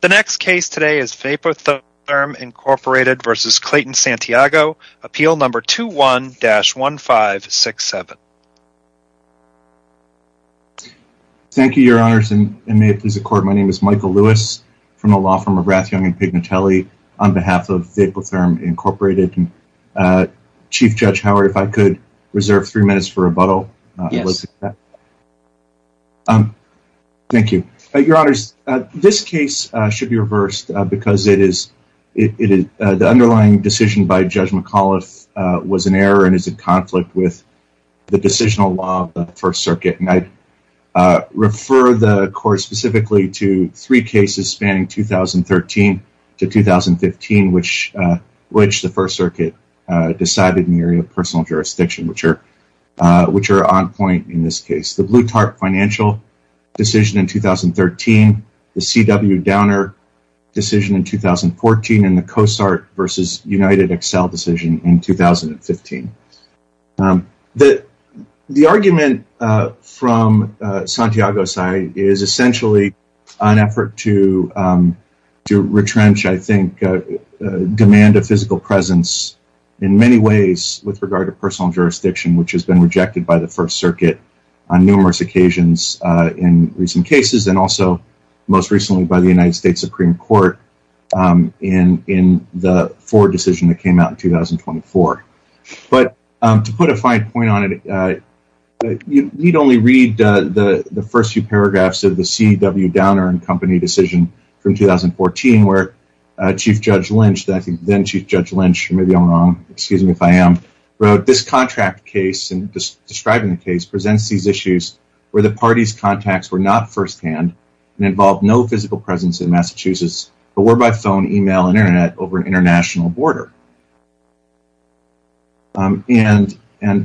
The next case today is Vapotherm, Inc. v. Clayton Santiago, Appeal No. 21-1567. Thank you, Your Honors, and may it please the Court, my name is Michael Lewis, from the law firm of Rathjong and Pignatelli, on behalf of Vapotherm, Inc. Chief Judge Howard, if I could reserve three minutes for rebuttal. Yes. Thank you. Your Honors, this case should be reversed because the underlying decision by Judge McAuliffe was an error and is in conflict with the decisional law of the First Circuit. And I refer the Court specifically to three cases spanning 2013 to 2015, which the First Circuit decided in the area of personal jurisdiction, which are on point in this case. The Bluetart financial decision in 2013, the C.W. Downer decision in 2014, and the COSART v. UnitedXL decision in 2015. The argument from Santiago's side is essentially an effort to retrench, I think, demand of physical presence in many ways with regard to personal jurisdiction, which has been rejected by the First Circuit on numerous occasions in recent cases, and also most recently by the United States Supreme Court in the Ford decision that came out in 2024. But to put a fine point on it, you'd only read the first few paragraphs of the C.W. Downer and company decision from 2014, where Chief Judge Lynch, then Chief Judge Lynch, you may be wrong, excuse me if I am, wrote, that this contract case, describing the case, presents these issues where the parties' contacts were not firsthand and involved no physical presence in Massachusetts, but were by phone, email, and internet over an international border. And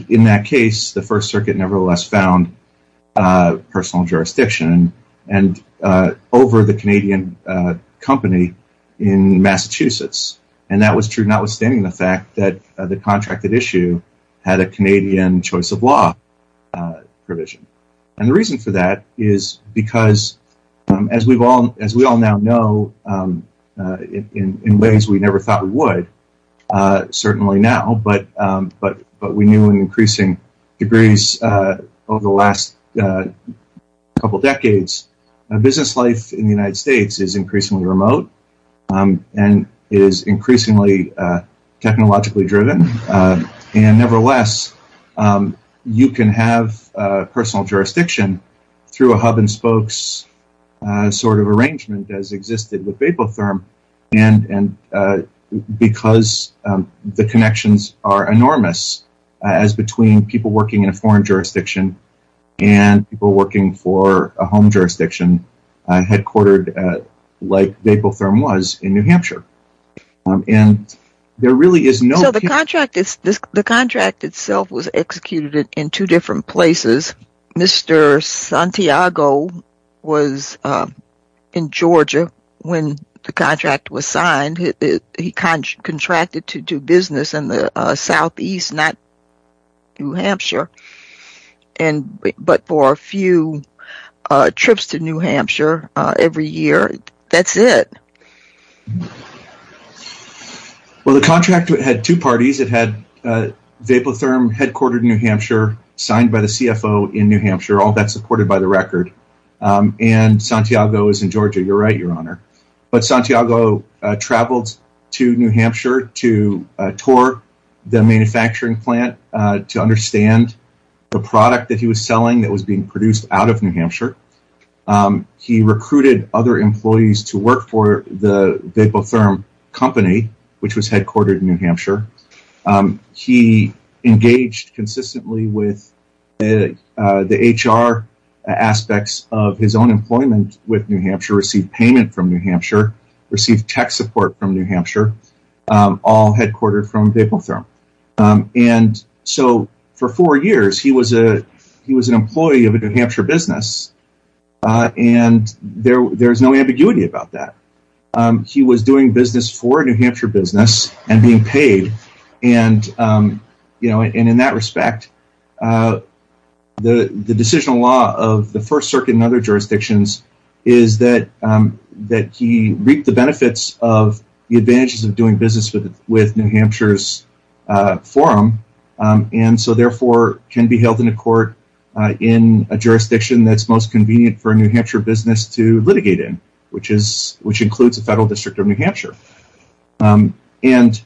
in that case, the First Circuit nevertheless found personal jurisdiction over the Canadian company in Massachusetts. And that was true notwithstanding the fact that the contracted issue had a Canadian choice of law provision. And the reason for that is because, as we all now know in ways we never thought we would, certainly now, but we knew in increasing degrees over the last couple decades, business life in the United States is increasingly remote and is increasingly technologically driven. And nevertheless, you can have personal jurisdiction through a hub-and-spokes sort of arrangement as existed with Vapotherm, because the connections are enormous as between people working in a foreign jurisdiction and people working for a home jurisdiction headquartered like Vapotherm was in New Hampshire. So, the contract itself was executed in two different places. Mr. Santiago was in Georgia when the contract was signed. He contracted to do business in the southeast, not New Hampshire, but for a few trips to New Hampshire every year. That's it. Well, the contract had two parties. It had Vapotherm headquartered in New Hampshire, signed by the CFO in New Hampshire, all that supported by the record, and Santiago was in Georgia. You're right, Your Honor. But Santiago traveled to New Hampshire to tour the manufacturing plant to understand the product that he was selling that was being produced out of New Hampshire. He recruited other employees to work for the Vapotherm company, which was headquartered in New Hampshire. He engaged consistently with the HR aspects of his own employment with New Hampshire, received payment from New Hampshire, received tech support from New Hampshire, all headquartered from Vapotherm. And so, for four years, he was an employee of a New Hampshire business, and there's no ambiguity about that. He was doing business for a New Hampshire business and being paid, and in that respect, the decisional law of the First Circuit and other jurisdictions is that he reaped the benefits of the advantages of doing business with New Hampshire's forum, and so, therefore, can be held in a court in a jurisdiction that's most convenient for a New Hampshire business to litigate in, which includes the federal district of New Hampshire. And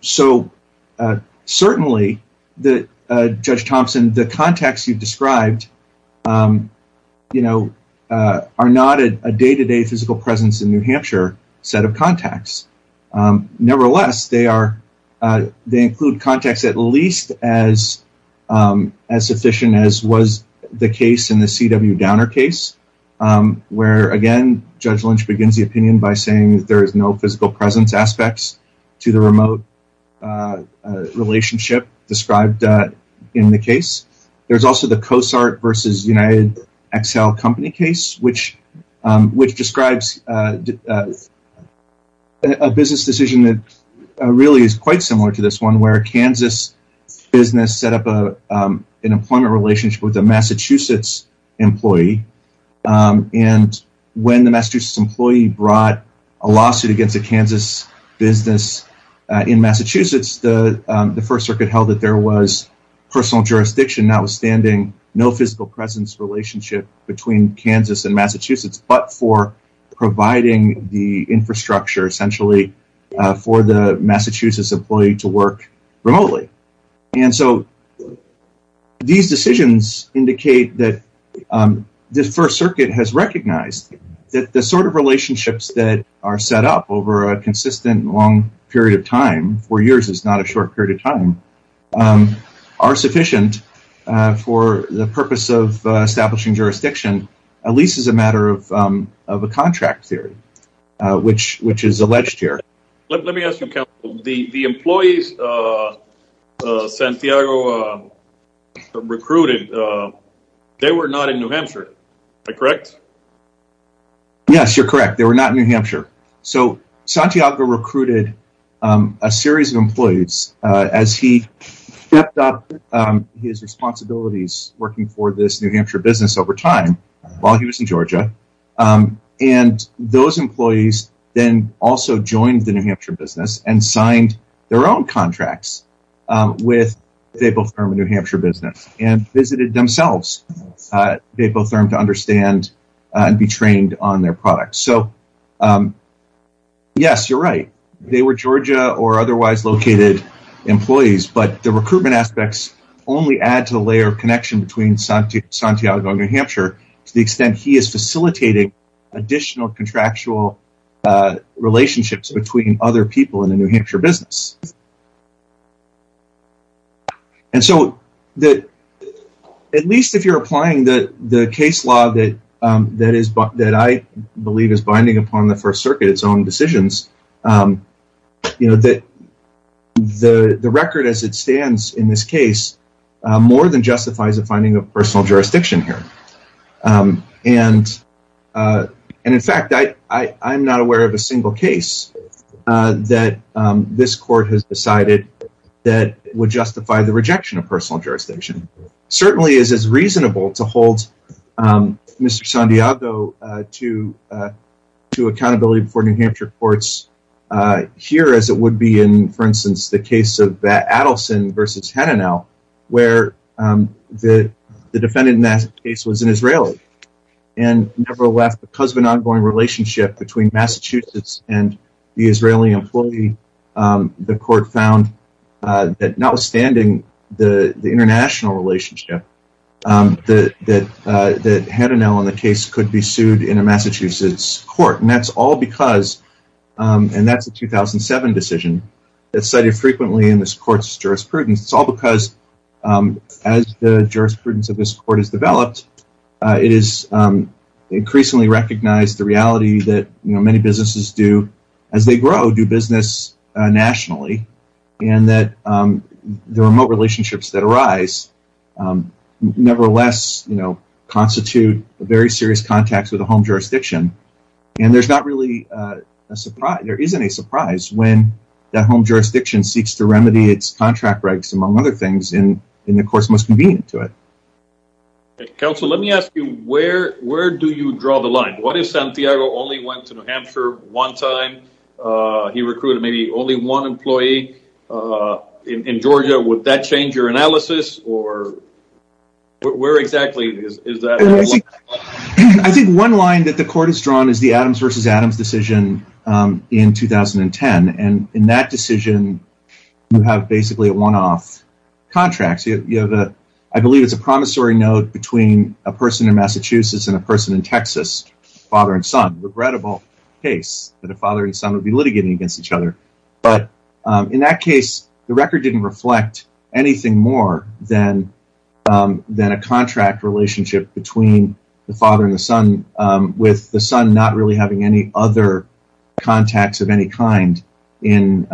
so, certainly, Judge Thompson, the contacts you've described are not a day-to-day physical presence in New Hampshire set of contacts. Nevertheless, they include contacts at least as sufficient as was the case in the C.W. Downer case, where, again, Judge Lynch begins the opinion by saying that there is no physical presence aspects to the remote relationship described in the case. There's also the CoSART versus UnitedXL company case, which describes a business decision that really is quite similar to this one, where a Kansas business set up an employment relationship with a Massachusetts employee, and when the Massachusetts employee brought a lawsuit against a Kansas business in Massachusetts, the First Circuit held that there was personal jurisdiction, notwithstanding no physical presence relationship between Kansas and Massachusetts, but for providing the infrastructure, essentially, for the Massachusetts employee to work remotely. And so, these decisions indicate that the First Circuit has recognized that the sort of relationships that are set up over a consistent long period of time, four years is not a short period of time, are sufficient for the purpose of establishing jurisdiction, at least as a matter of a contract theory, which is alleged here. Let me ask you, the employees Santiago recruited, they were not in New Hampshire, correct? Yes, you're correct. So, Santiago recruited a series of employees as he stepped up his responsibilities working for this New Hampshire business over time while he was in Georgia, and those employees then also joined the New Hampshire business and signed their own contracts with VapoTherm, a New Hampshire business, and visited themselves at VapoTherm to understand and be trained on their products. So, yes, you're right. They were Georgia or otherwise located employees, but the recruitment aspects only add to the layer of connection between Santiago and New Hampshire to the extent he is facilitating additional contractual relationships between other people in the New Hampshire business. And so, at least if you're applying the case law that I believe is binding upon the First Circuit, its own decisions, the record as it stands in this case more than justifies a finding of personal jurisdiction here. And in fact, I'm not aware of a single case that this court has decided that would justify the rejection of personal jurisdiction. Certainly, it is reasonable to hold Mr. Santiago to accountability before New Hampshire courts here as it would be in, for instance, the case of Adelson v. Henanel, where the defendant in that case was an Israeli and never left because of an ongoing relationship between Massachusetts and the Israeli employee. The court found that notwithstanding the international relationship, that Henanel in the case could be sued in a Massachusetts court. And that's a 2007 decision that's cited frequently in this court's jurisprudence. It's all because as the jurisprudence of this court is developed, it is increasingly recognized the reality that many businesses do, as they grow, do business nationally. And that the remote relationships that arise, nevertheless, you know, constitute very serious contacts with a home jurisdiction. And there's not really a surprise. There isn't a surprise when that home jurisdiction seeks to remedy its contract regs, among other things, in the courts most convenient to it. Counsel, let me ask you, where do you draw the line? What if Santiago only went to New Hampshire one time? He recruited maybe only one employee in Georgia. Would that change your analysis or where exactly is that? I think one line that the court has drawn is the Adams v. Adams decision in 2010. And in that decision, you have basically a one-off contract. I believe it's a promissory note between a person in Massachusetts and a person in Texas, father and son. Regrettable case that a father and son would be litigating against each other. But in that case, the record didn't reflect anything more than a contract relationship between the father and the son, with the son not really having any other contacts of any kind in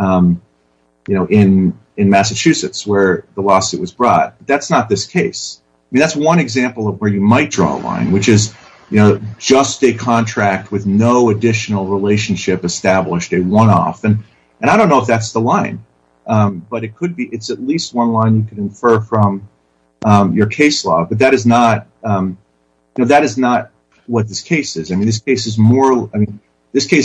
Massachusetts where the lawsuit was brought. That's not this case. That's one example of where you might draw a line, which is just a contract with no additional relationship established, a one-off. And I don't know if that's the line, but it could be. It's at least one line you could infer from your case law. But that is not what this case is. This case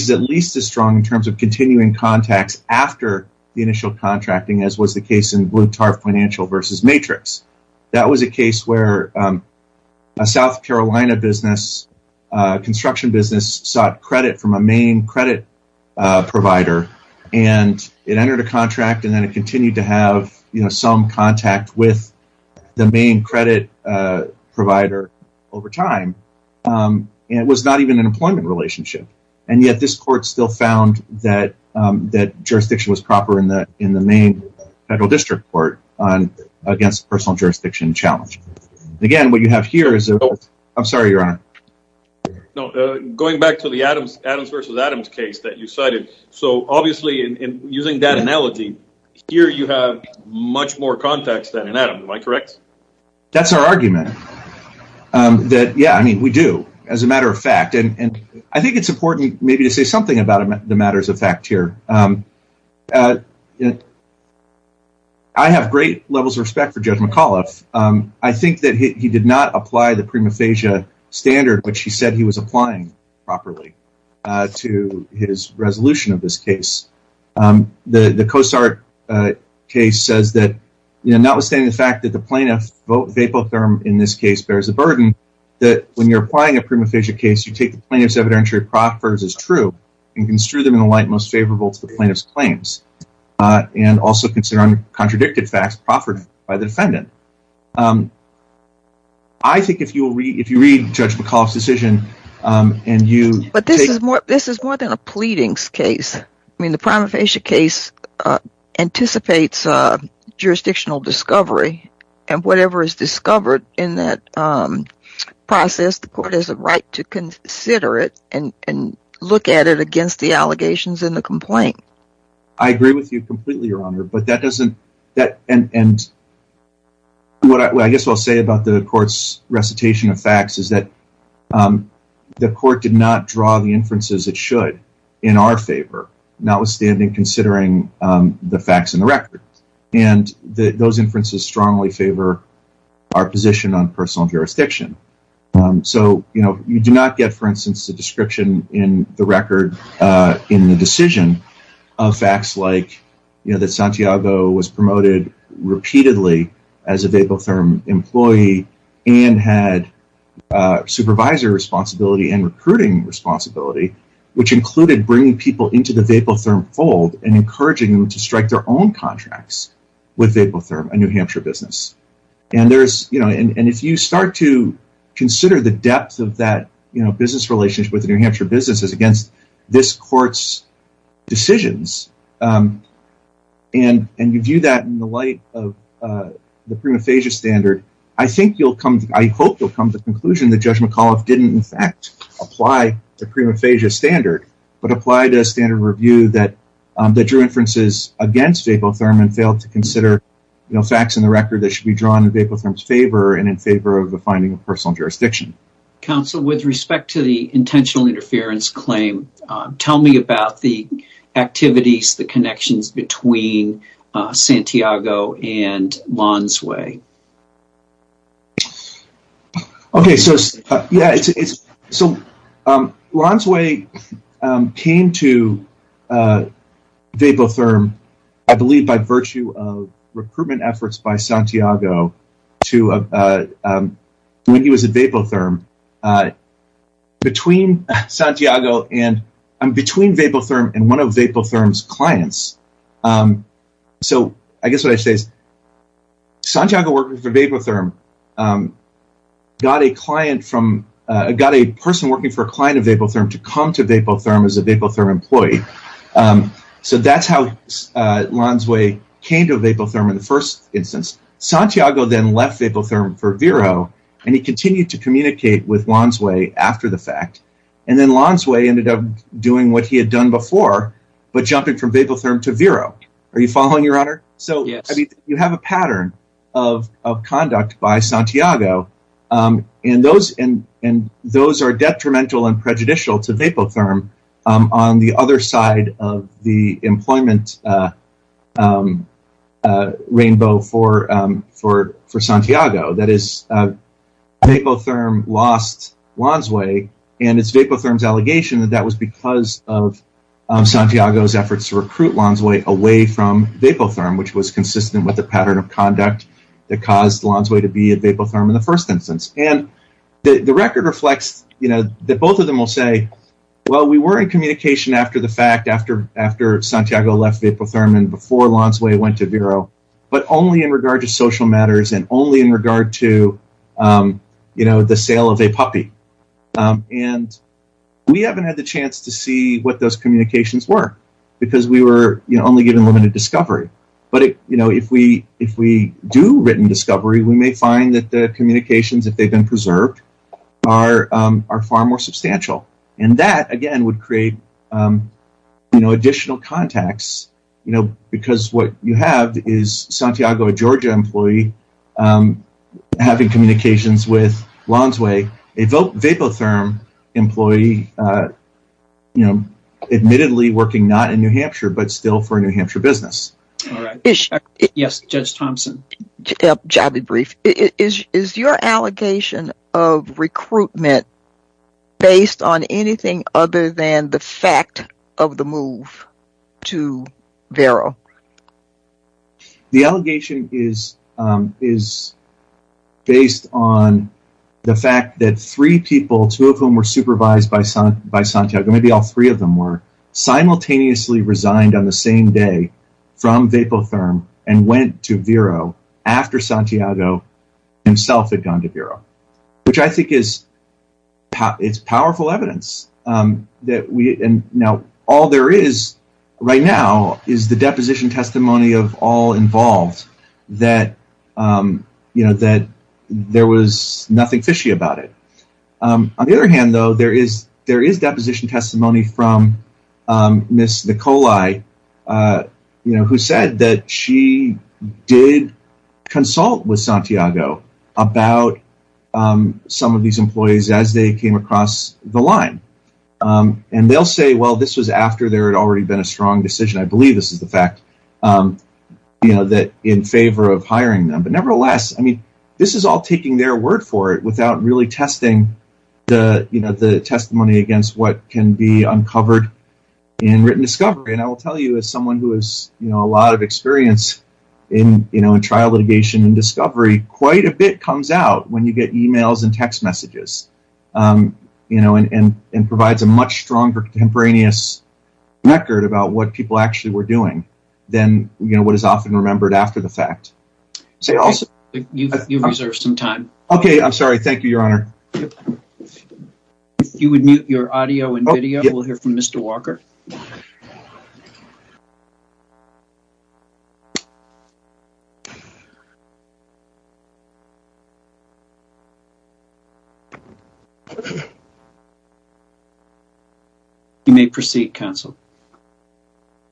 is at least as strong in terms of continuing contacts after the initial contracting as was the case in Blue Tarp Financial v. Matrix. That was a case where a South Carolina construction business sought credit from a main credit provider. It entered a contract and then it continued to have some contact with the main credit provider over time. It was not even an employment relationship. And yet this court still found that jurisdiction was proper in the main federal district court against personal jurisdiction challenge. Again, what you have here is... I'm sorry, Your Honor. Going back to the Adams v. Adams case that you cited. So, obviously, using that analogy, here you have much more contacts than in Adams. Am I correct? That's our argument. Yeah, I mean, we do, as a matter of fact. And I think it's important maybe to say something about the matters of fact here. I have great levels of respect for Judge McAuliffe. I think that he did not apply the prima facie standard, which he said he was applying properly to his resolution of this case. The Cosart case says that notwithstanding the fact that the plaintiff, Vapotherm in this case, bears the burden that when you're applying a prima facie case, you take the plaintiff's evidentiary proffers as true and construe them in a light most favorable to the plaintiff's claims. And also consider uncontradicted facts proffered by the defendant. I think if you read Judge McAuliffe's decision and you... But this is more than a pleadings case. I mean, the prima facie case anticipates jurisdictional discovery. And whatever is discovered in that process, the court has a right to consider it and look at it against the allegations in the complaint. I agree with you completely, Your Honor, but that doesn't... And what I guess I'll say about the court's recitation of facts is that the court did not draw the inferences it should in our favor, notwithstanding considering the facts in the record. And those inferences strongly favor our position on personal jurisdiction. So, you know, you do not get, for instance, the description in the record in the decision of facts like, you know, that Santiago was promoted repeatedly as a Vapotherm employee and had supervisor responsibility and recruiting responsibility, which included bringing people into the Vapotherm fold and encouraging them to strike their own contracts with Vapotherm, a New Hampshire business. And there's, you know, and if you start to consider the depth of that, you know, business relationship with New Hampshire businesses against this court's decisions and you view that in the light of the prima facie standard, I think you'll come... I hope you'll come to the conclusion that Judge McAuliffe didn't in fact apply the prima facie standard, but applied a standard review that drew inferences against Vapotherm and failed to consider, you know, the facts in the record that should be drawn in Vapotherm's favor and in favor of the finding of personal jurisdiction. Counsel, with respect to the intentional interference claim, tell me about the activities, the connections between Santiago and Lonsway. OK, so, yeah, it's so Lonsway came to Vapotherm, I believe, by virtue of recruitment efforts by Santiago to when he was at Vapotherm. Between Santiago and between Vapotherm and one of Vapotherm's clients. So I guess what I say is Santiago working for Vapotherm got a client from... got a person working for a client of Vapotherm to come to Vapotherm as a Vapotherm employee. So that's how Lonsway came to Vapotherm in the first instance. Santiago then left Vapotherm for Vero and he continued to communicate with Lonsway after the fact. And then Lonsway ended up doing what he had done before, but jumping from Vapotherm to Vero. Are you following, Your Honor? So you have a pattern of conduct by Santiago and those are detrimental and prejudicial to Vapotherm on the other side of the employment rainbow for Santiago. That is, Vapotherm lost Lonsway and it's Vapotherm's allegation that that was because of Santiago's efforts to recruit Lonsway away from Vapotherm, which was consistent with the pattern of conduct that caused Lonsway to be at Vapotherm in the first instance. And the record reflects that both of them will say, well, we were in communication after the fact, after Santiago left Vapotherm and before Lonsway went to Vero, but only in regard to social matters and only in regard to the sale of a puppy. And we haven't had the chance to see what those communications were because we were only given limited discovery. But if we do written discovery, we may find that the communications, if they've been preserved, are far more substantial. And that, again, would create additional contacts because what you have is Santiago, a Georgia employee, having communications with Lonsway, a Vapotherm employee, admittedly working not in New Hampshire, but still for a New Hampshire business. Yes, Judge Thompson. I'll be brief. Is your allegation of recruitment based on anything other than the fact of the move to Vero? The allegation is based on the fact that three people, two of whom were supervised by Santiago, maybe all three of them were, simultaneously resigned on the same day from Vapotherm and went to Vero after Santiago himself had gone to Vero, which I think is powerful evidence. Now, all there is right now is the deposition testimony of all involved that there was nothing fishy about it. On the other hand, though, there is deposition testimony from Ms. Nicolai, who said that she did consult with Santiago about some of these employees as they came across the line. And they'll say, well, this was after there had already been a strong decision. I believe this is the fact, you know, that in favor of hiring them. But nevertheless, I mean, this is all taking their word for it without really testing the testimony against what can be uncovered in written discovery. And I will tell you, as someone who has a lot of experience in trial litigation and discovery, quite a bit comes out when you get emails and text messages and provides a much stronger contemporaneous record about what people actually were doing than what is often remembered after the fact. You've reserved some time. OK, I'm sorry. Thank you, Your Honor. If you would mute your audio and video, we'll hear from Mr. Walker. You may proceed, counsel.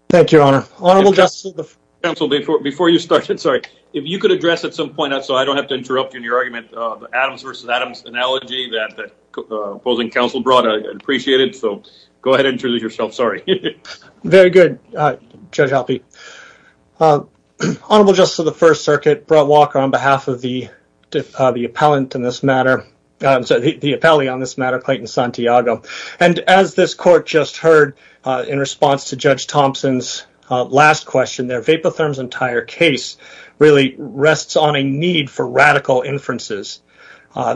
Thank you, Your Honor. Honorable Justice. Counsel, before you started, sorry, if you could address at some point, so I don't have to interrupt you in your argument, Adams versus Adams analogy that the opposing counsel brought, I appreciate it. So go ahead and introduce yourself. Very good, Judge Albee. Honorable Justice of the First Circuit, Brett Walker, on behalf of the appellant in this matter, the appellee on this matter, Clayton Santiago. And as this court just heard in response to Judge Thompson's last question there, Vapotherm's entire case really rests on a need for radical inferences.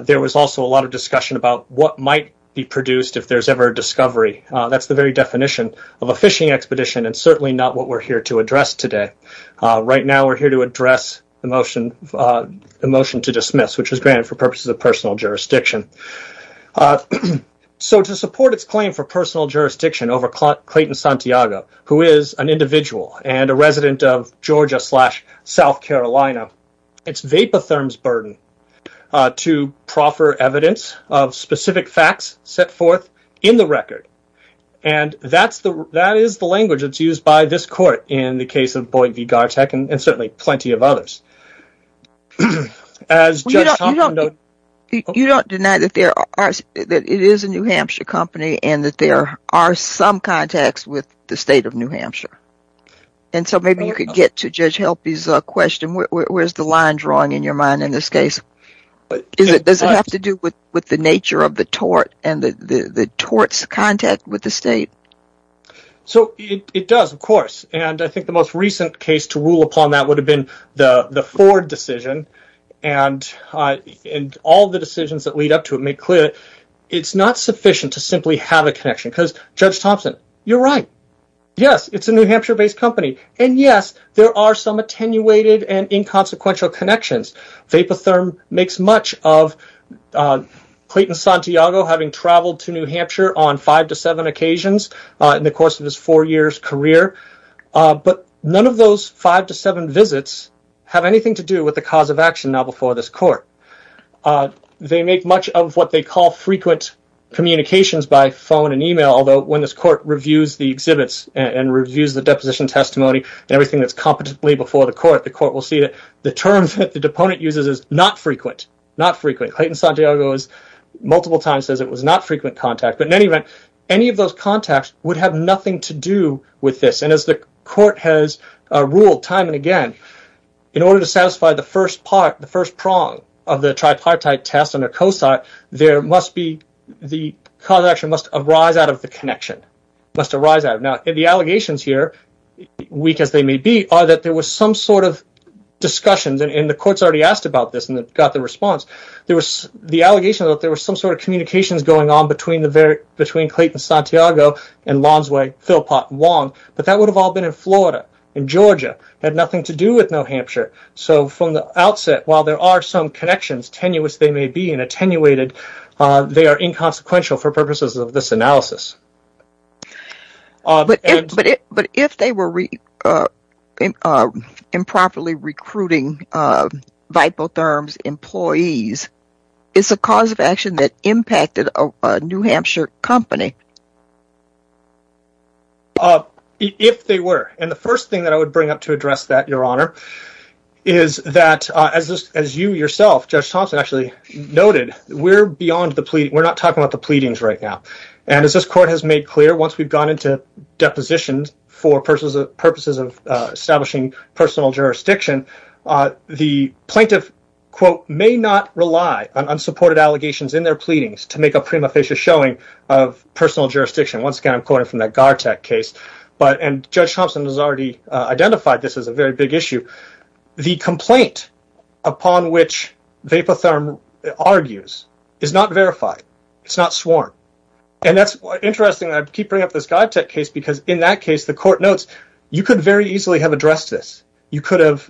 There was also a lot of discussion about what might be produced if there's ever a discovery. That's the very definition of a fishing expedition and certainly not what we're here to address today. Right now, we're here to address the motion to dismiss, which was granted for purposes of personal jurisdiction. So to support its claim for personal jurisdiction over Clayton Santiago, who is an individual and a resident of Georgia slash South Carolina, it's Vapotherm's burden to proffer evidence of specific facts set forth in the record. And that is the language that's used by this court in the case of Boyd v. Garteck and certainly plenty of others. You don't deny that it is a New Hampshire company and that there are some contacts with the state of New Hampshire. And so maybe you could get to Judge Albee's question, where's the line drawing in your mind in this case? Does it have to do with the nature of the tort and the tort's contact with the state? So it does, of course. And I think the most recent case to rule upon that would have been the Ford decision. And all the decisions that lead up to it make clear that it's not sufficient to simply have a connection because Judge Thompson, you're right. Yes, it's a New Hampshire-based company. And yes, there are some attenuated and inconsequential connections. Vapotherm makes much of Clayton Santiago having traveled to New Hampshire on five to seven occasions in the course of his four years career. But none of those five to seven visits have anything to do with the cause of action now before this court. They make much of what they call frequent communications by phone and email, although when this court reviews the exhibits and reviews the deposition testimony and everything that's competently before the court, the court will see that the term that the deponent uses is not frequent, not frequent. Clayton Santiago multiple times says it was not frequent contact. But in any event, any of those contacts would have nothing to do with this. And as the court has ruled time and again, in order to satisfy the first part, the first prong of the tripartite test under COSA, there must be, the cause of action must arise out of the connection, must arise out. Now, the allegations here, weak as they may be, are that there was some sort of discussions and the courts already asked about this and got the response. There was the allegation that there was some sort of communications going on between Clayton Santiago and Lonsway Philpot Wong, but that would have all been in Florida and Georgia, had nothing to do with New Hampshire. So from the outset, while there are some connections, tenuous they may be and attenuated, they are inconsequential for purposes of this analysis. But if they were improperly recruiting Vipotherm's employees, is the cause of action that impacted a New Hampshire company? If they were. And the first thing that I would bring up to address that, Your Honor, is that as you yourself, Judge Thompson, actually noted, we're beyond the plea, we're not talking about the pleadings right now. And as this Court has made clear, once we've gone into depositions for purposes of establishing personal jurisdiction, the plaintiff, quote, may not rely on unsupported allegations in their pleadings to make a prima facie showing of personal jurisdiction. Once again, I'm quoting from that Gartec case, and Judge Thompson has already identified this as a very big issue. The complaint upon which Vipotherm argues is not verified. It's not sworn. And that's interesting, I keep bringing up this Gartec case, because in that case, the Court notes, you could very easily have addressed this. You could have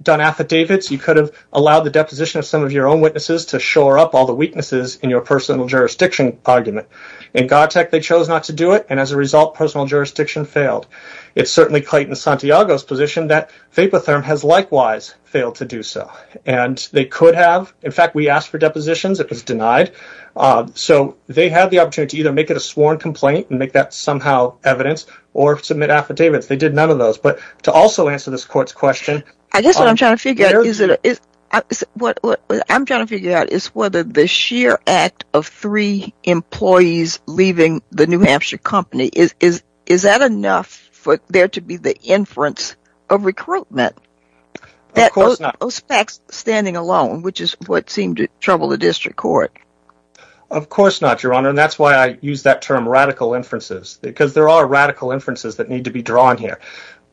done affidavits, you could have allowed the deposition of some of your own witnesses to shore up all the weaknesses in your personal jurisdiction argument. In Gartec, they chose not to do it, and as a result, personal jurisdiction failed. It's certainly Clayton Santiago's position that Vipotherm has likewise failed to do so. And they could have. In fact, we asked for depositions, it was denied. So they had the opportunity to either make it a sworn complaint and make that somehow evidence, or submit affidavits. They did none of those. But to also answer this Court's question... I guess what I'm trying to figure out is whether the sheer act of three employees leaving the New Hampshire company, is that enough for there to be the inference of recruitment? Of course not. OSPAC standing alone, which is what seemed to trouble the District Court. Of course not, Your Honor, and that's why I use that term, radical inferences. Because there are radical inferences that need to be drawn here.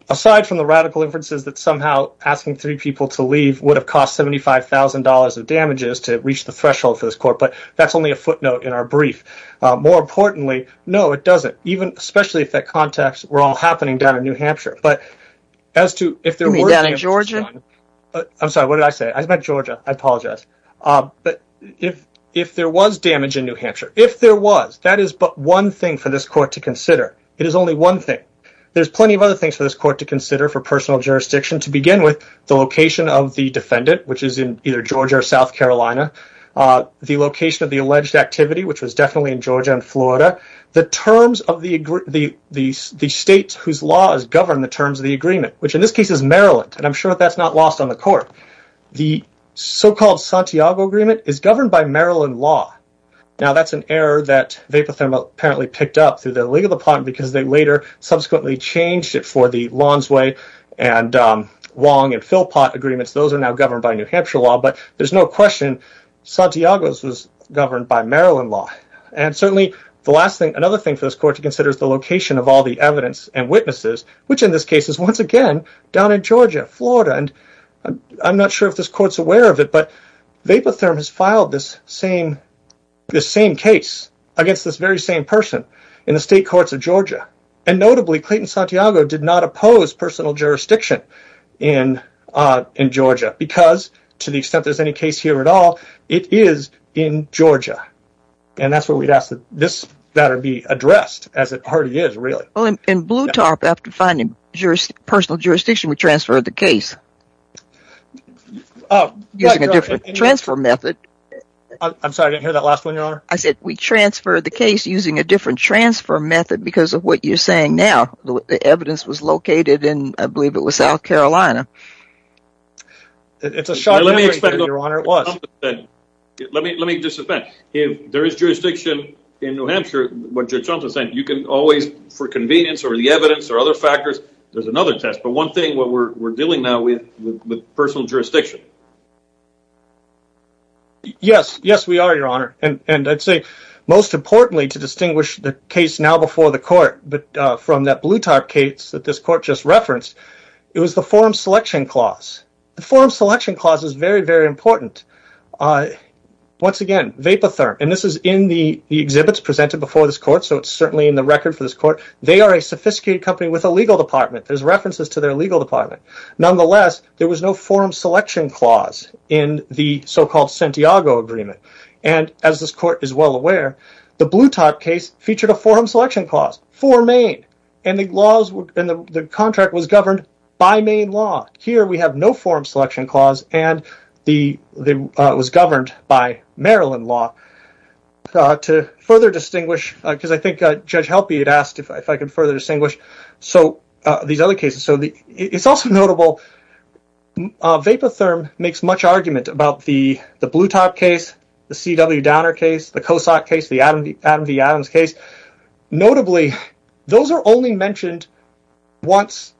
Aside from the radical inferences that somehow asking three people to leave would have cost $75,000 of damages to reach the threshold for this Court, but that's only a footnote in our brief. More importantly, no, it doesn't, especially if that context were all happening down in New Hampshire. You mean down in Georgia? I'm sorry, what did I say? I meant Georgia, I apologize. But if there was damage in New Hampshire, if there was, that is but one thing for this Court to consider. It is only one thing. There's plenty of other things for this Court to consider for personal jurisdiction, to begin with, the location of the defendant, which is in either Georgia or South Carolina. The location of the alleged activity, which was definitely in Georgia and Florida. The terms of the state whose law has governed the terms of the agreement, which in this case is Maryland. And I'm sure that's not lost on the Court. The so-called Santiago Agreement is governed by Maryland law. Now that's an error that Vapothermo apparently picked up through the legal department because they later subsequently changed it for the Lonsway and Wong and Philpott agreements. Those are now governed by New Hampshire law. But there's no question Santiago's was governed by Maryland law. And certainly another thing for this Court to consider is the location of all the evidence and witnesses, which in this case is once again down in Georgia, Florida. And I'm not sure if this Court's aware of it, but Vapothermo has filed this same case against this very same person in the state courts of Georgia. And notably, Clayton Santiago did not oppose personal jurisdiction in Georgia because, to the extent there's any case here at all, it is in Georgia. And that's where we'd ask that this matter be addressed, as it already is, really. In Bluetarp, after finding personal jurisdiction, we transferred the case using a different transfer method. I'm sorry, I didn't hear that last one, Your Honor. I said we transferred the case using a different transfer method because of what you're saying now. The evidence was located in, I believe it was South Carolina. It's a short memory thing, Your Honor, it was. Let me just suspend. There is jurisdiction in New Hampshire, but you're trying to say you can always, for convenience or the evidence or other factors, there's another test. But one thing, we're dealing now with personal jurisdiction. Yes, yes, we are, Your Honor. And I'd say, most importantly, to distinguish the case now before the Court, from that Bluetarp case that this Court just referenced, it was the Forum Selection Clause. The Forum Selection Clause is very, very important. Once again, Vapotherm, and this is in the exhibits presented before this Court, so it's certainly in the record for this Court. They are a sophisticated company with a legal department. There's references to their legal department. Nonetheless, there was no Forum Selection Clause in the so-called Santiago Agreement. And, as this Court is well aware, the Bluetarp case featured a Forum Selection Clause. It was for Maine, and the contract was governed by Maine law. Here, we have no Forum Selection Clause, and it was governed by Maryland law. To further distinguish, because I think Judge Helpe had asked if I could further distinguish these other cases. It's also notable, Vapotherm makes much argument about the Bluetarp case, the C.W. Downer case, the Kosak case, the Adam v. Adams case. Notably, those are only mentioned once,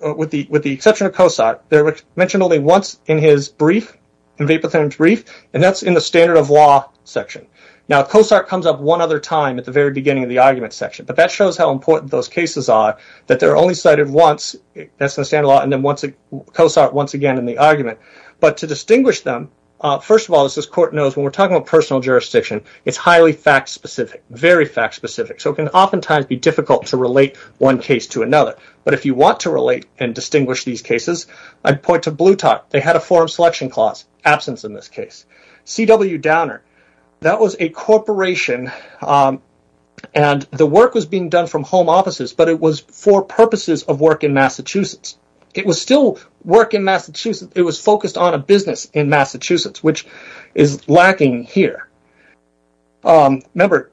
with the exception of Kosak. They're mentioned only once in his brief, in Vapotherm's brief, and that's in the standard of law section. Now, Kosak comes up one other time at the very beginning of the argument section, but that shows how important those cases are, that they're only cited once. That's in the standard of law, and then Kosak once again in the argument. But, to distinguish them, first of all, as this Court knows, when we're talking about personal jurisdiction, it's highly fact-specific. Very fact-specific. So it can oftentimes be difficult to relate one case to another. But if you want to relate and distinguish these cases, I'd point to Bluetarp. They had a Forum Selection Clause absence in this case. C.W. Downer, that was a corporation, and the work was being done from home offices, but it was for purposes of work in Massachusetts. It was still work in Massachusetts, it was focused on a business in Massachusetts, which is lacking here. Remember,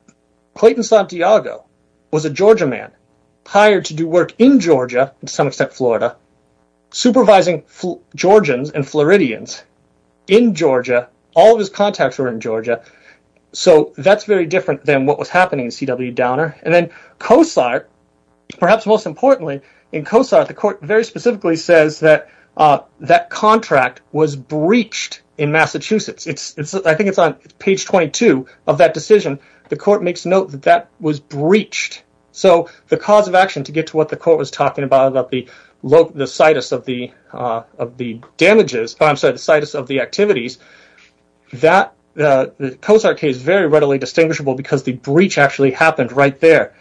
Clayton Santiago was a Georgia man, hired to do work in Georgia, to some extent Florida, supervising Georgians and Floridians in Georgia. All of his contacts were in Georgia, so that's very different than what was happening in C.W. Downer. And then Kosak, perhaps most importantly, in Kosak, the Court very specifically says that that contract was breached in Massachusetts. I think it's on page 22 of that decision, the Court makes note that that was breached. So the cause of action, to get to what the Court was talking about, the situs of the activities, the Kosak case is very readily distinguishable because the breach actually happened right there.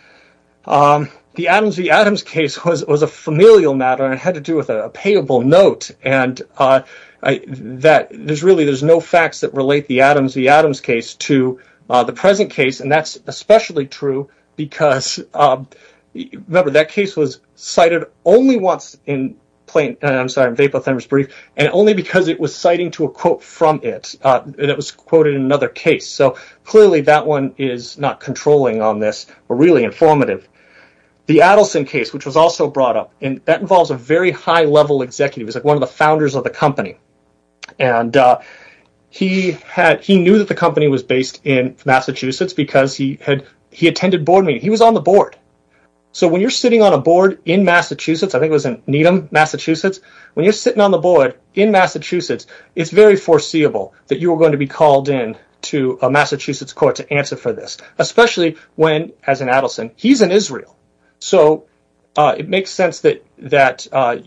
The Adams v. Adams case was a familial matter, and it had to do with a payable note. There's really no facts that relate the Adams v. Adams case to the present case, and that's especially true because that case was cited only once in Vapo-Thunberg's brief, and only because it was citing to a quote from it, and it was quoted in another case. So clearly that one is not controlling on this, but really informative. The Adelson case, which was also brought up, that involves a very high-level executive, one of the founders of the company. He knew that the company was based in Massachusetts because he attended board meetings. He was on the board. So when you're sitting on a board in Massachusetts, I think it was in Needham, Massachusetts, when you're sitting on the board in Massachusetts, it's very foreseeable that you're going to be called in to a Massachusetts court to answer for this, especially when, as in Adelson, he's in Israel. So it makes sense that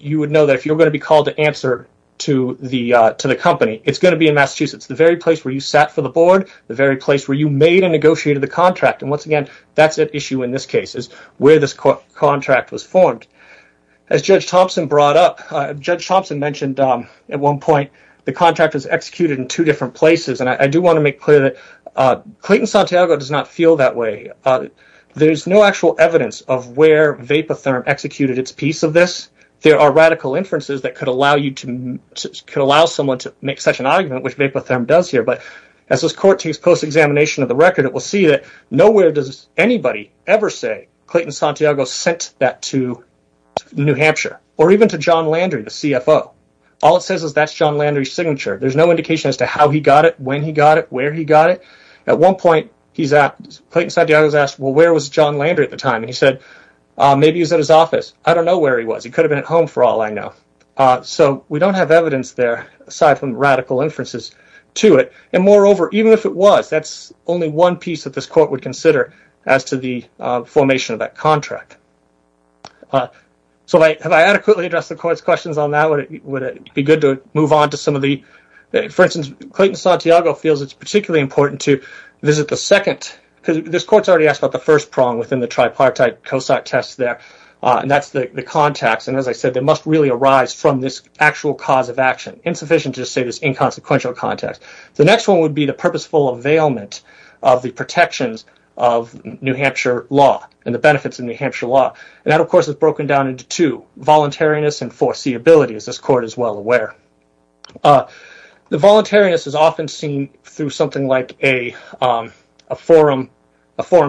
you would know that if you're going to be called to answer to the company, it's going to be in Massachusetts, the very place where you sat for the board, the very place where you made and negotiated the contract, and once again, that's at issue in this case, where this contract was formed. As Judge Thompson brought up, Judge Thompson mentioned at one point, the contract was executed in two different places, and I do want to make clear that Clayton Santiago does not feel that way. There's no actual evidence of where Vapotherm executed its piece of this. There are radical inferences that could allow someone to make such an argument, which Vapotherm does here, but as this court takes post-examination of the record, it will see that nowhere does anybody ever say Clayton Santiago sent that to New Hampshire, or even to John Landry, the CFO. All it says is that's John Landry's signature. There's no indication as to how he got it, when he got it, where he got it. At one point, Clayton Santiago was asked, well, where was John Landry at the time? He said, maybe he was at his office. I don't know where he was. He could have been at home for all I know. So, we don't have evidence there, aside from radical inferences to it, and moreover, even if it was, that's only one piece that this court would consider as to the formation of that contract. So, have I adequately addressed the court's questions on that? Would it be good to move on to some of the... This court's already asked about the first prong within the tripartite COSAT test there, and that's the contacts, and as I said, they must really arise from this actual cause of action. Insufficient to just say this inconsequential context. The next one would be the purposeful availment of the protections of New Hampshire law, and the benefits of New Hampshire law, and that, of course, is broken down into two. Voluntariness and foreseeability, as this court is well aware. The voluntariness is often seen through something like a forum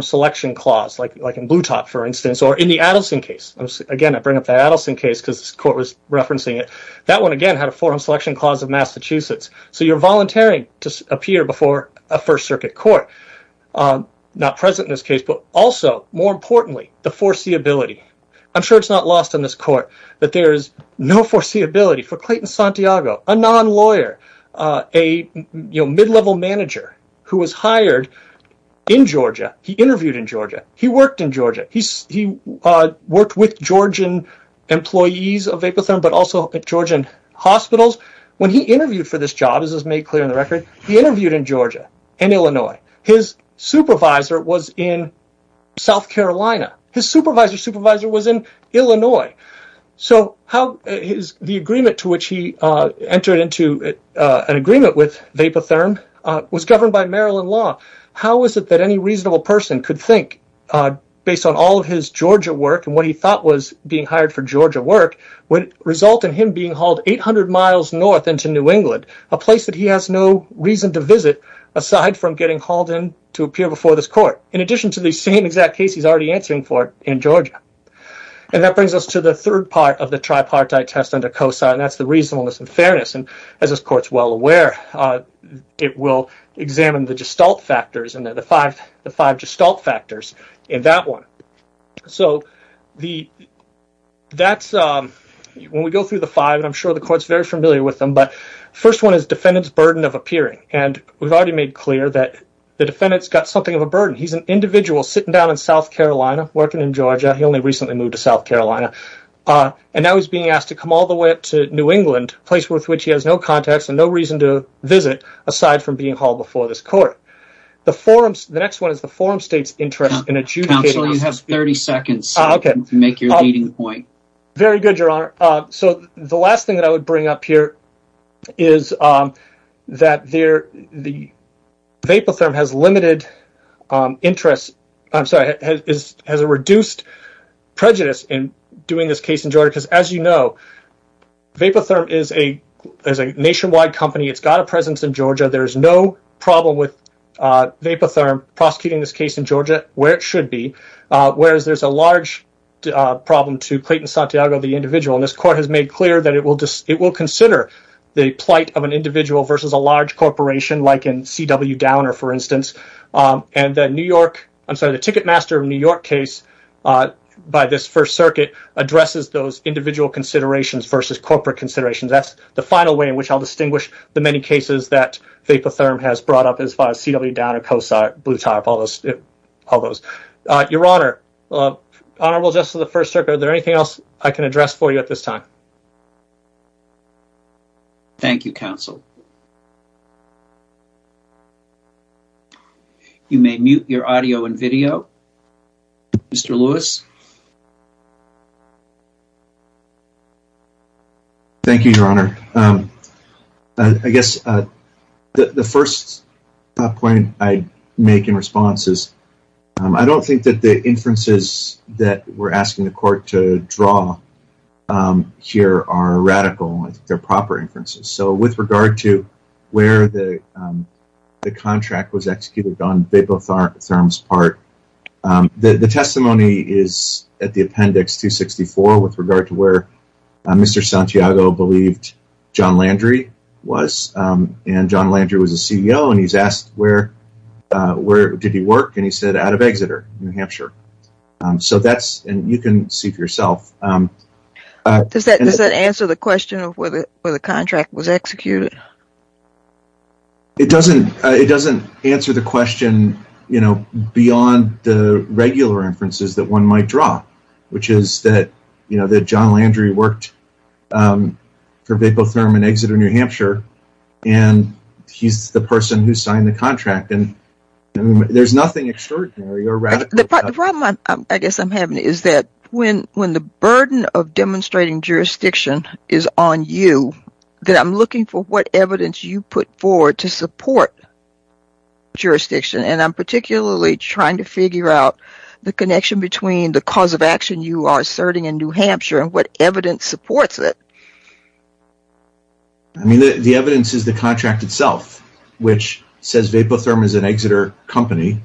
selection clause, like in Bluetop, for instance, or in the Adelson case. Again, I bring up the Adelson case because this court was referencing it. That one, again, had a forum selection clause of Massachusetts. So, you're volunteering to appear before a First Circuit court. Not present in this case, but also, more importantly, the foreseeability. I'm sure it's not lost on this court that there is no foreseeability for Clayton Santiago, a non-lawyer, a mid-level manager who was hired in Georgia. He interviewed in Georgia. He worked in Georgia. He worked with Georgian employees of Apotherm, but also at Georgian hospitals. When he interviewed for this job, as is made clear in the record, he interviewed in Georgia, in Illinois. His supervisor was in South Carolina. His supervisor's supervisor was in Illinois. So, the agreement to which he entered into an agreement with Apotherm was governed by Maryland law. How is it that any reasonable person could think, based on all of his Georgia work and what he thought was being hired for Georgia work, would result in him being hauled 800 miles north into New England, a place that he has no reason to visit, aside from getting hauled in to appear before this court, in addition to the same exact case he's already answering for in Georgia. And that brings us to the third part of the tripartite test under COSA, and that's the reasonableness and fairness. And, as this court's well aware, it will examine the gestalt factors, the five gestalt factors in that one. So, when we go through the five, and I'm sure the court's very familiar with them, the first one is defendant's burden of appearing. And we've already made clear that the defendant's got something of a burden. He's an individual sitting down in South Carolina, working in Georgia. And he recently moved to South Carolina. And now he's being asked to come all the way up to New England, a place with which he has no contacts and no reason to visit, aside from being hauled before this court. The next one is the forum state's interest in adjudicating... Counsel, you have 30 seconds to make your leading point. Very good, Your Honor. So, the last thing that I would bring up here is that the vapotherm has limited interest, I'm sorry, has a reduced prejudice in doing this case in Georgia. Because, as you know, vapotherm is a nationwide company. It's got a presence in Georgia. There's no problem with vapotherm prosecuting this case in Georgia, where it should be. Whereas, there's a large problem to Clayton Santiago, the individual. And this court has made clear that it will consider the plight of an individual versus a large corporation, like in C.W. Downer, for instance. And the New York, I'm sorry, the Ticketmaster of New York case, by this First Circuit, addresses those individual considerations versus corporate considerations. That's the final way in which I'll distinguish the many cases that vapotherm has brought up, as far as C.W. Downer, Cosar, Bluetop, all those. Your Honor, Honorable Justice of the First Circuit, is there anything else I can address for you at this time? Thank you, Counsel. You may mute your audio and video, Mr. Lewis. Thank you, Your Honor. I guess the first point I make in response is, I don't think that the inferences that we're asking the court to draw here are radical. I think they're proper inferences. So, with regard to where the contract was executed on vapotherm's part, the testimony is at the appendix 264, with regard to where Mr. Santiago believed John Landry was. And John Landry was the CEO, and he's asked, where did he work? And he said, out of Exeter, New Hampshire. So that's, and you can see for yourself. Does that answer the question of where the contract was executed? It doesn't answer the question beyond the regular inferences that one might draw, which is that John Landry worked for vapotherm in Exeter, New Hampshire, and he's the person who signed the contract. There's nothing extraordinary or radical about it. The problem I guess I'm having is that when the burden of demonstrating jurisdiction is on you, that I'm looking for what evidence you put forward to support jurisdiction, and I'm particularly trying to figure out the connection between the cause of action you are asserting in New Hampshire and what evidence supports it. I mean, the evidence is the contract itself, which says Vapotherm is an Exeter company,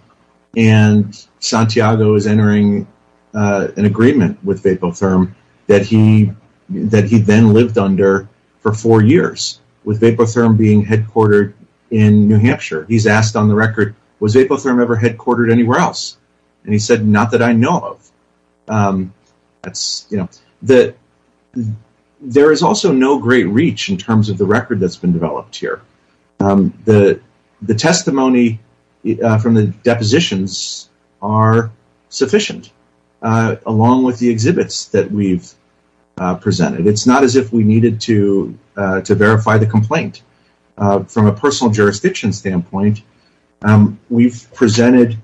and Santiago is entering an agreement with Vapotherm that he then lived under for four years, with Vapotherm being headquartered in New Hampshire. He's asked on the record, was Vapotherm ever headquartered anywhere else? And he said, not that I know of. There is also no great reach in terms of the record that's been developed here. The testimony from the depositions are sufficient, along with the exhibits that we've presented. It's not as if we needed to verify the complaint. From a personal jurisdiction standpoint, we've presented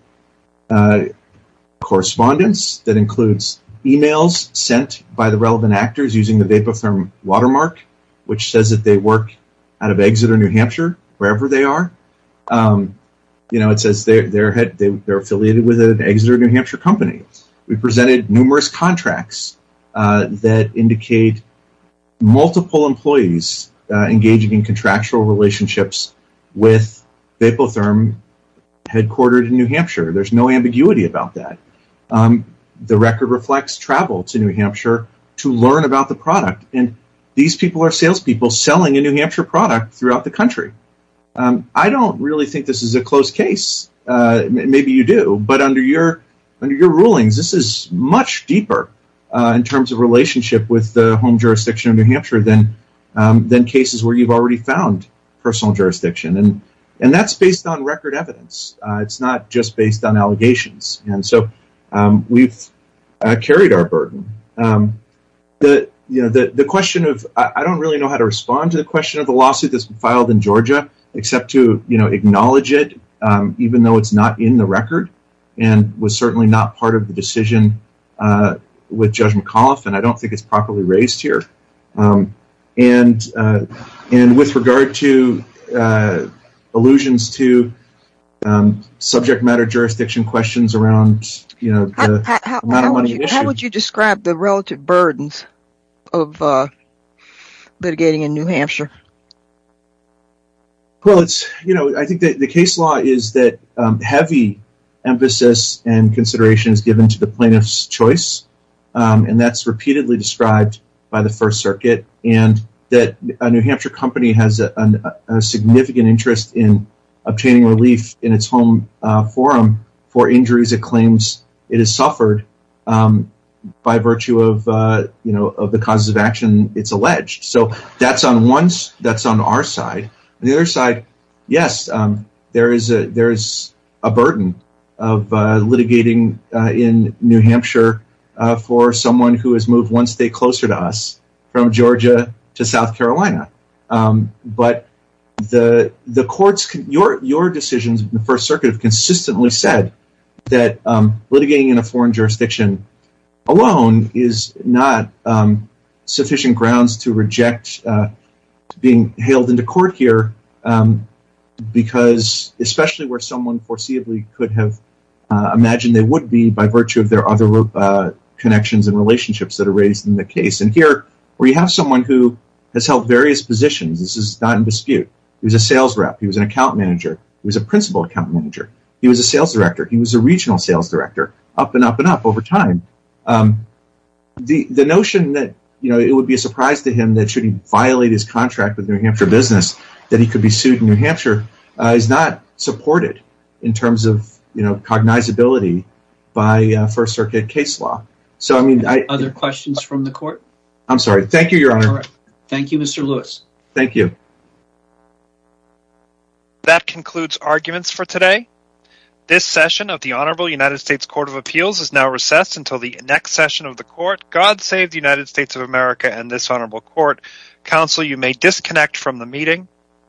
correspondence that includes emails sent by the relevant actors using the Vapotherm watermark, which says that they work out of Exeter, New Hampshire, wherever they are. It says they're affiliated with an Exeter, New Hampshire company. We've presented numerous contracts that indicate multiple employees engaging in contractual relationships with Vapotherm headquartered in New Hampshire. There's no ambiguity about that. The record reflects travel to New Hampshire to learn about the product, and these people are salespeople selling a New Hampshire product throughout the country. I don't really think this is a closed case. Maybe you do, but under your rulings, this is much deeper in terms of relationship with the home jurisdiction of New Hampshire than cases where you've already found personal jurisdiction. That's based on record evidence. It's not just based on allegations. We've carried our burden. I don't really know how to respond to the question of the lawsuit that's been filed in Georgia except to acknowledge it, even though it's not in the record and was certainly not part of the decision with Judge McAuliffe, and I don't think it's properly raised here. With regard to allusions to subject matter jurisdiction questions around the amount of money issued— what are the relative burdens of litigating in New Hampshire? I think the case law is that heavy emphasis and consideration is given to the plaintiff's choice, and that's repeatedly described by the First Circuit, and that a New Hampshire company has a significant interest in obtaining relief in its home forum for injuries it claims it has suffered by virtue of the causes of action it's alleged. So that's on our side. On the other side, yes, there is a burden of litigating in New Hampshire for someone who has moved one state closer to us, from Georgia to South Carolina. But your decisions in the First Circuit have consistently said that litigating in a foreign jurisdiction alone is not sufficient grounds to reject being hailed into court here, especially where someone foreseeably could have imagined they would be by virtue of their other connections and relationships that are raised in the case. And here we have someone who has held various positions. This is not in dispute. He was a sales rep. He was an account manager. He was a principal account manager. He was a sales director. He was a regional sales director, up and up and up over time. The notion that it would be a surprise to him that should he violate his contract with a New Hampshire business that he could be sued in New Hampshire is not supported in terms of cognizability by First Circuit case law. Other questions from the court? I'm sorry. Thank you, Your Honor. Thank you, Mr. Lewis. Thank you.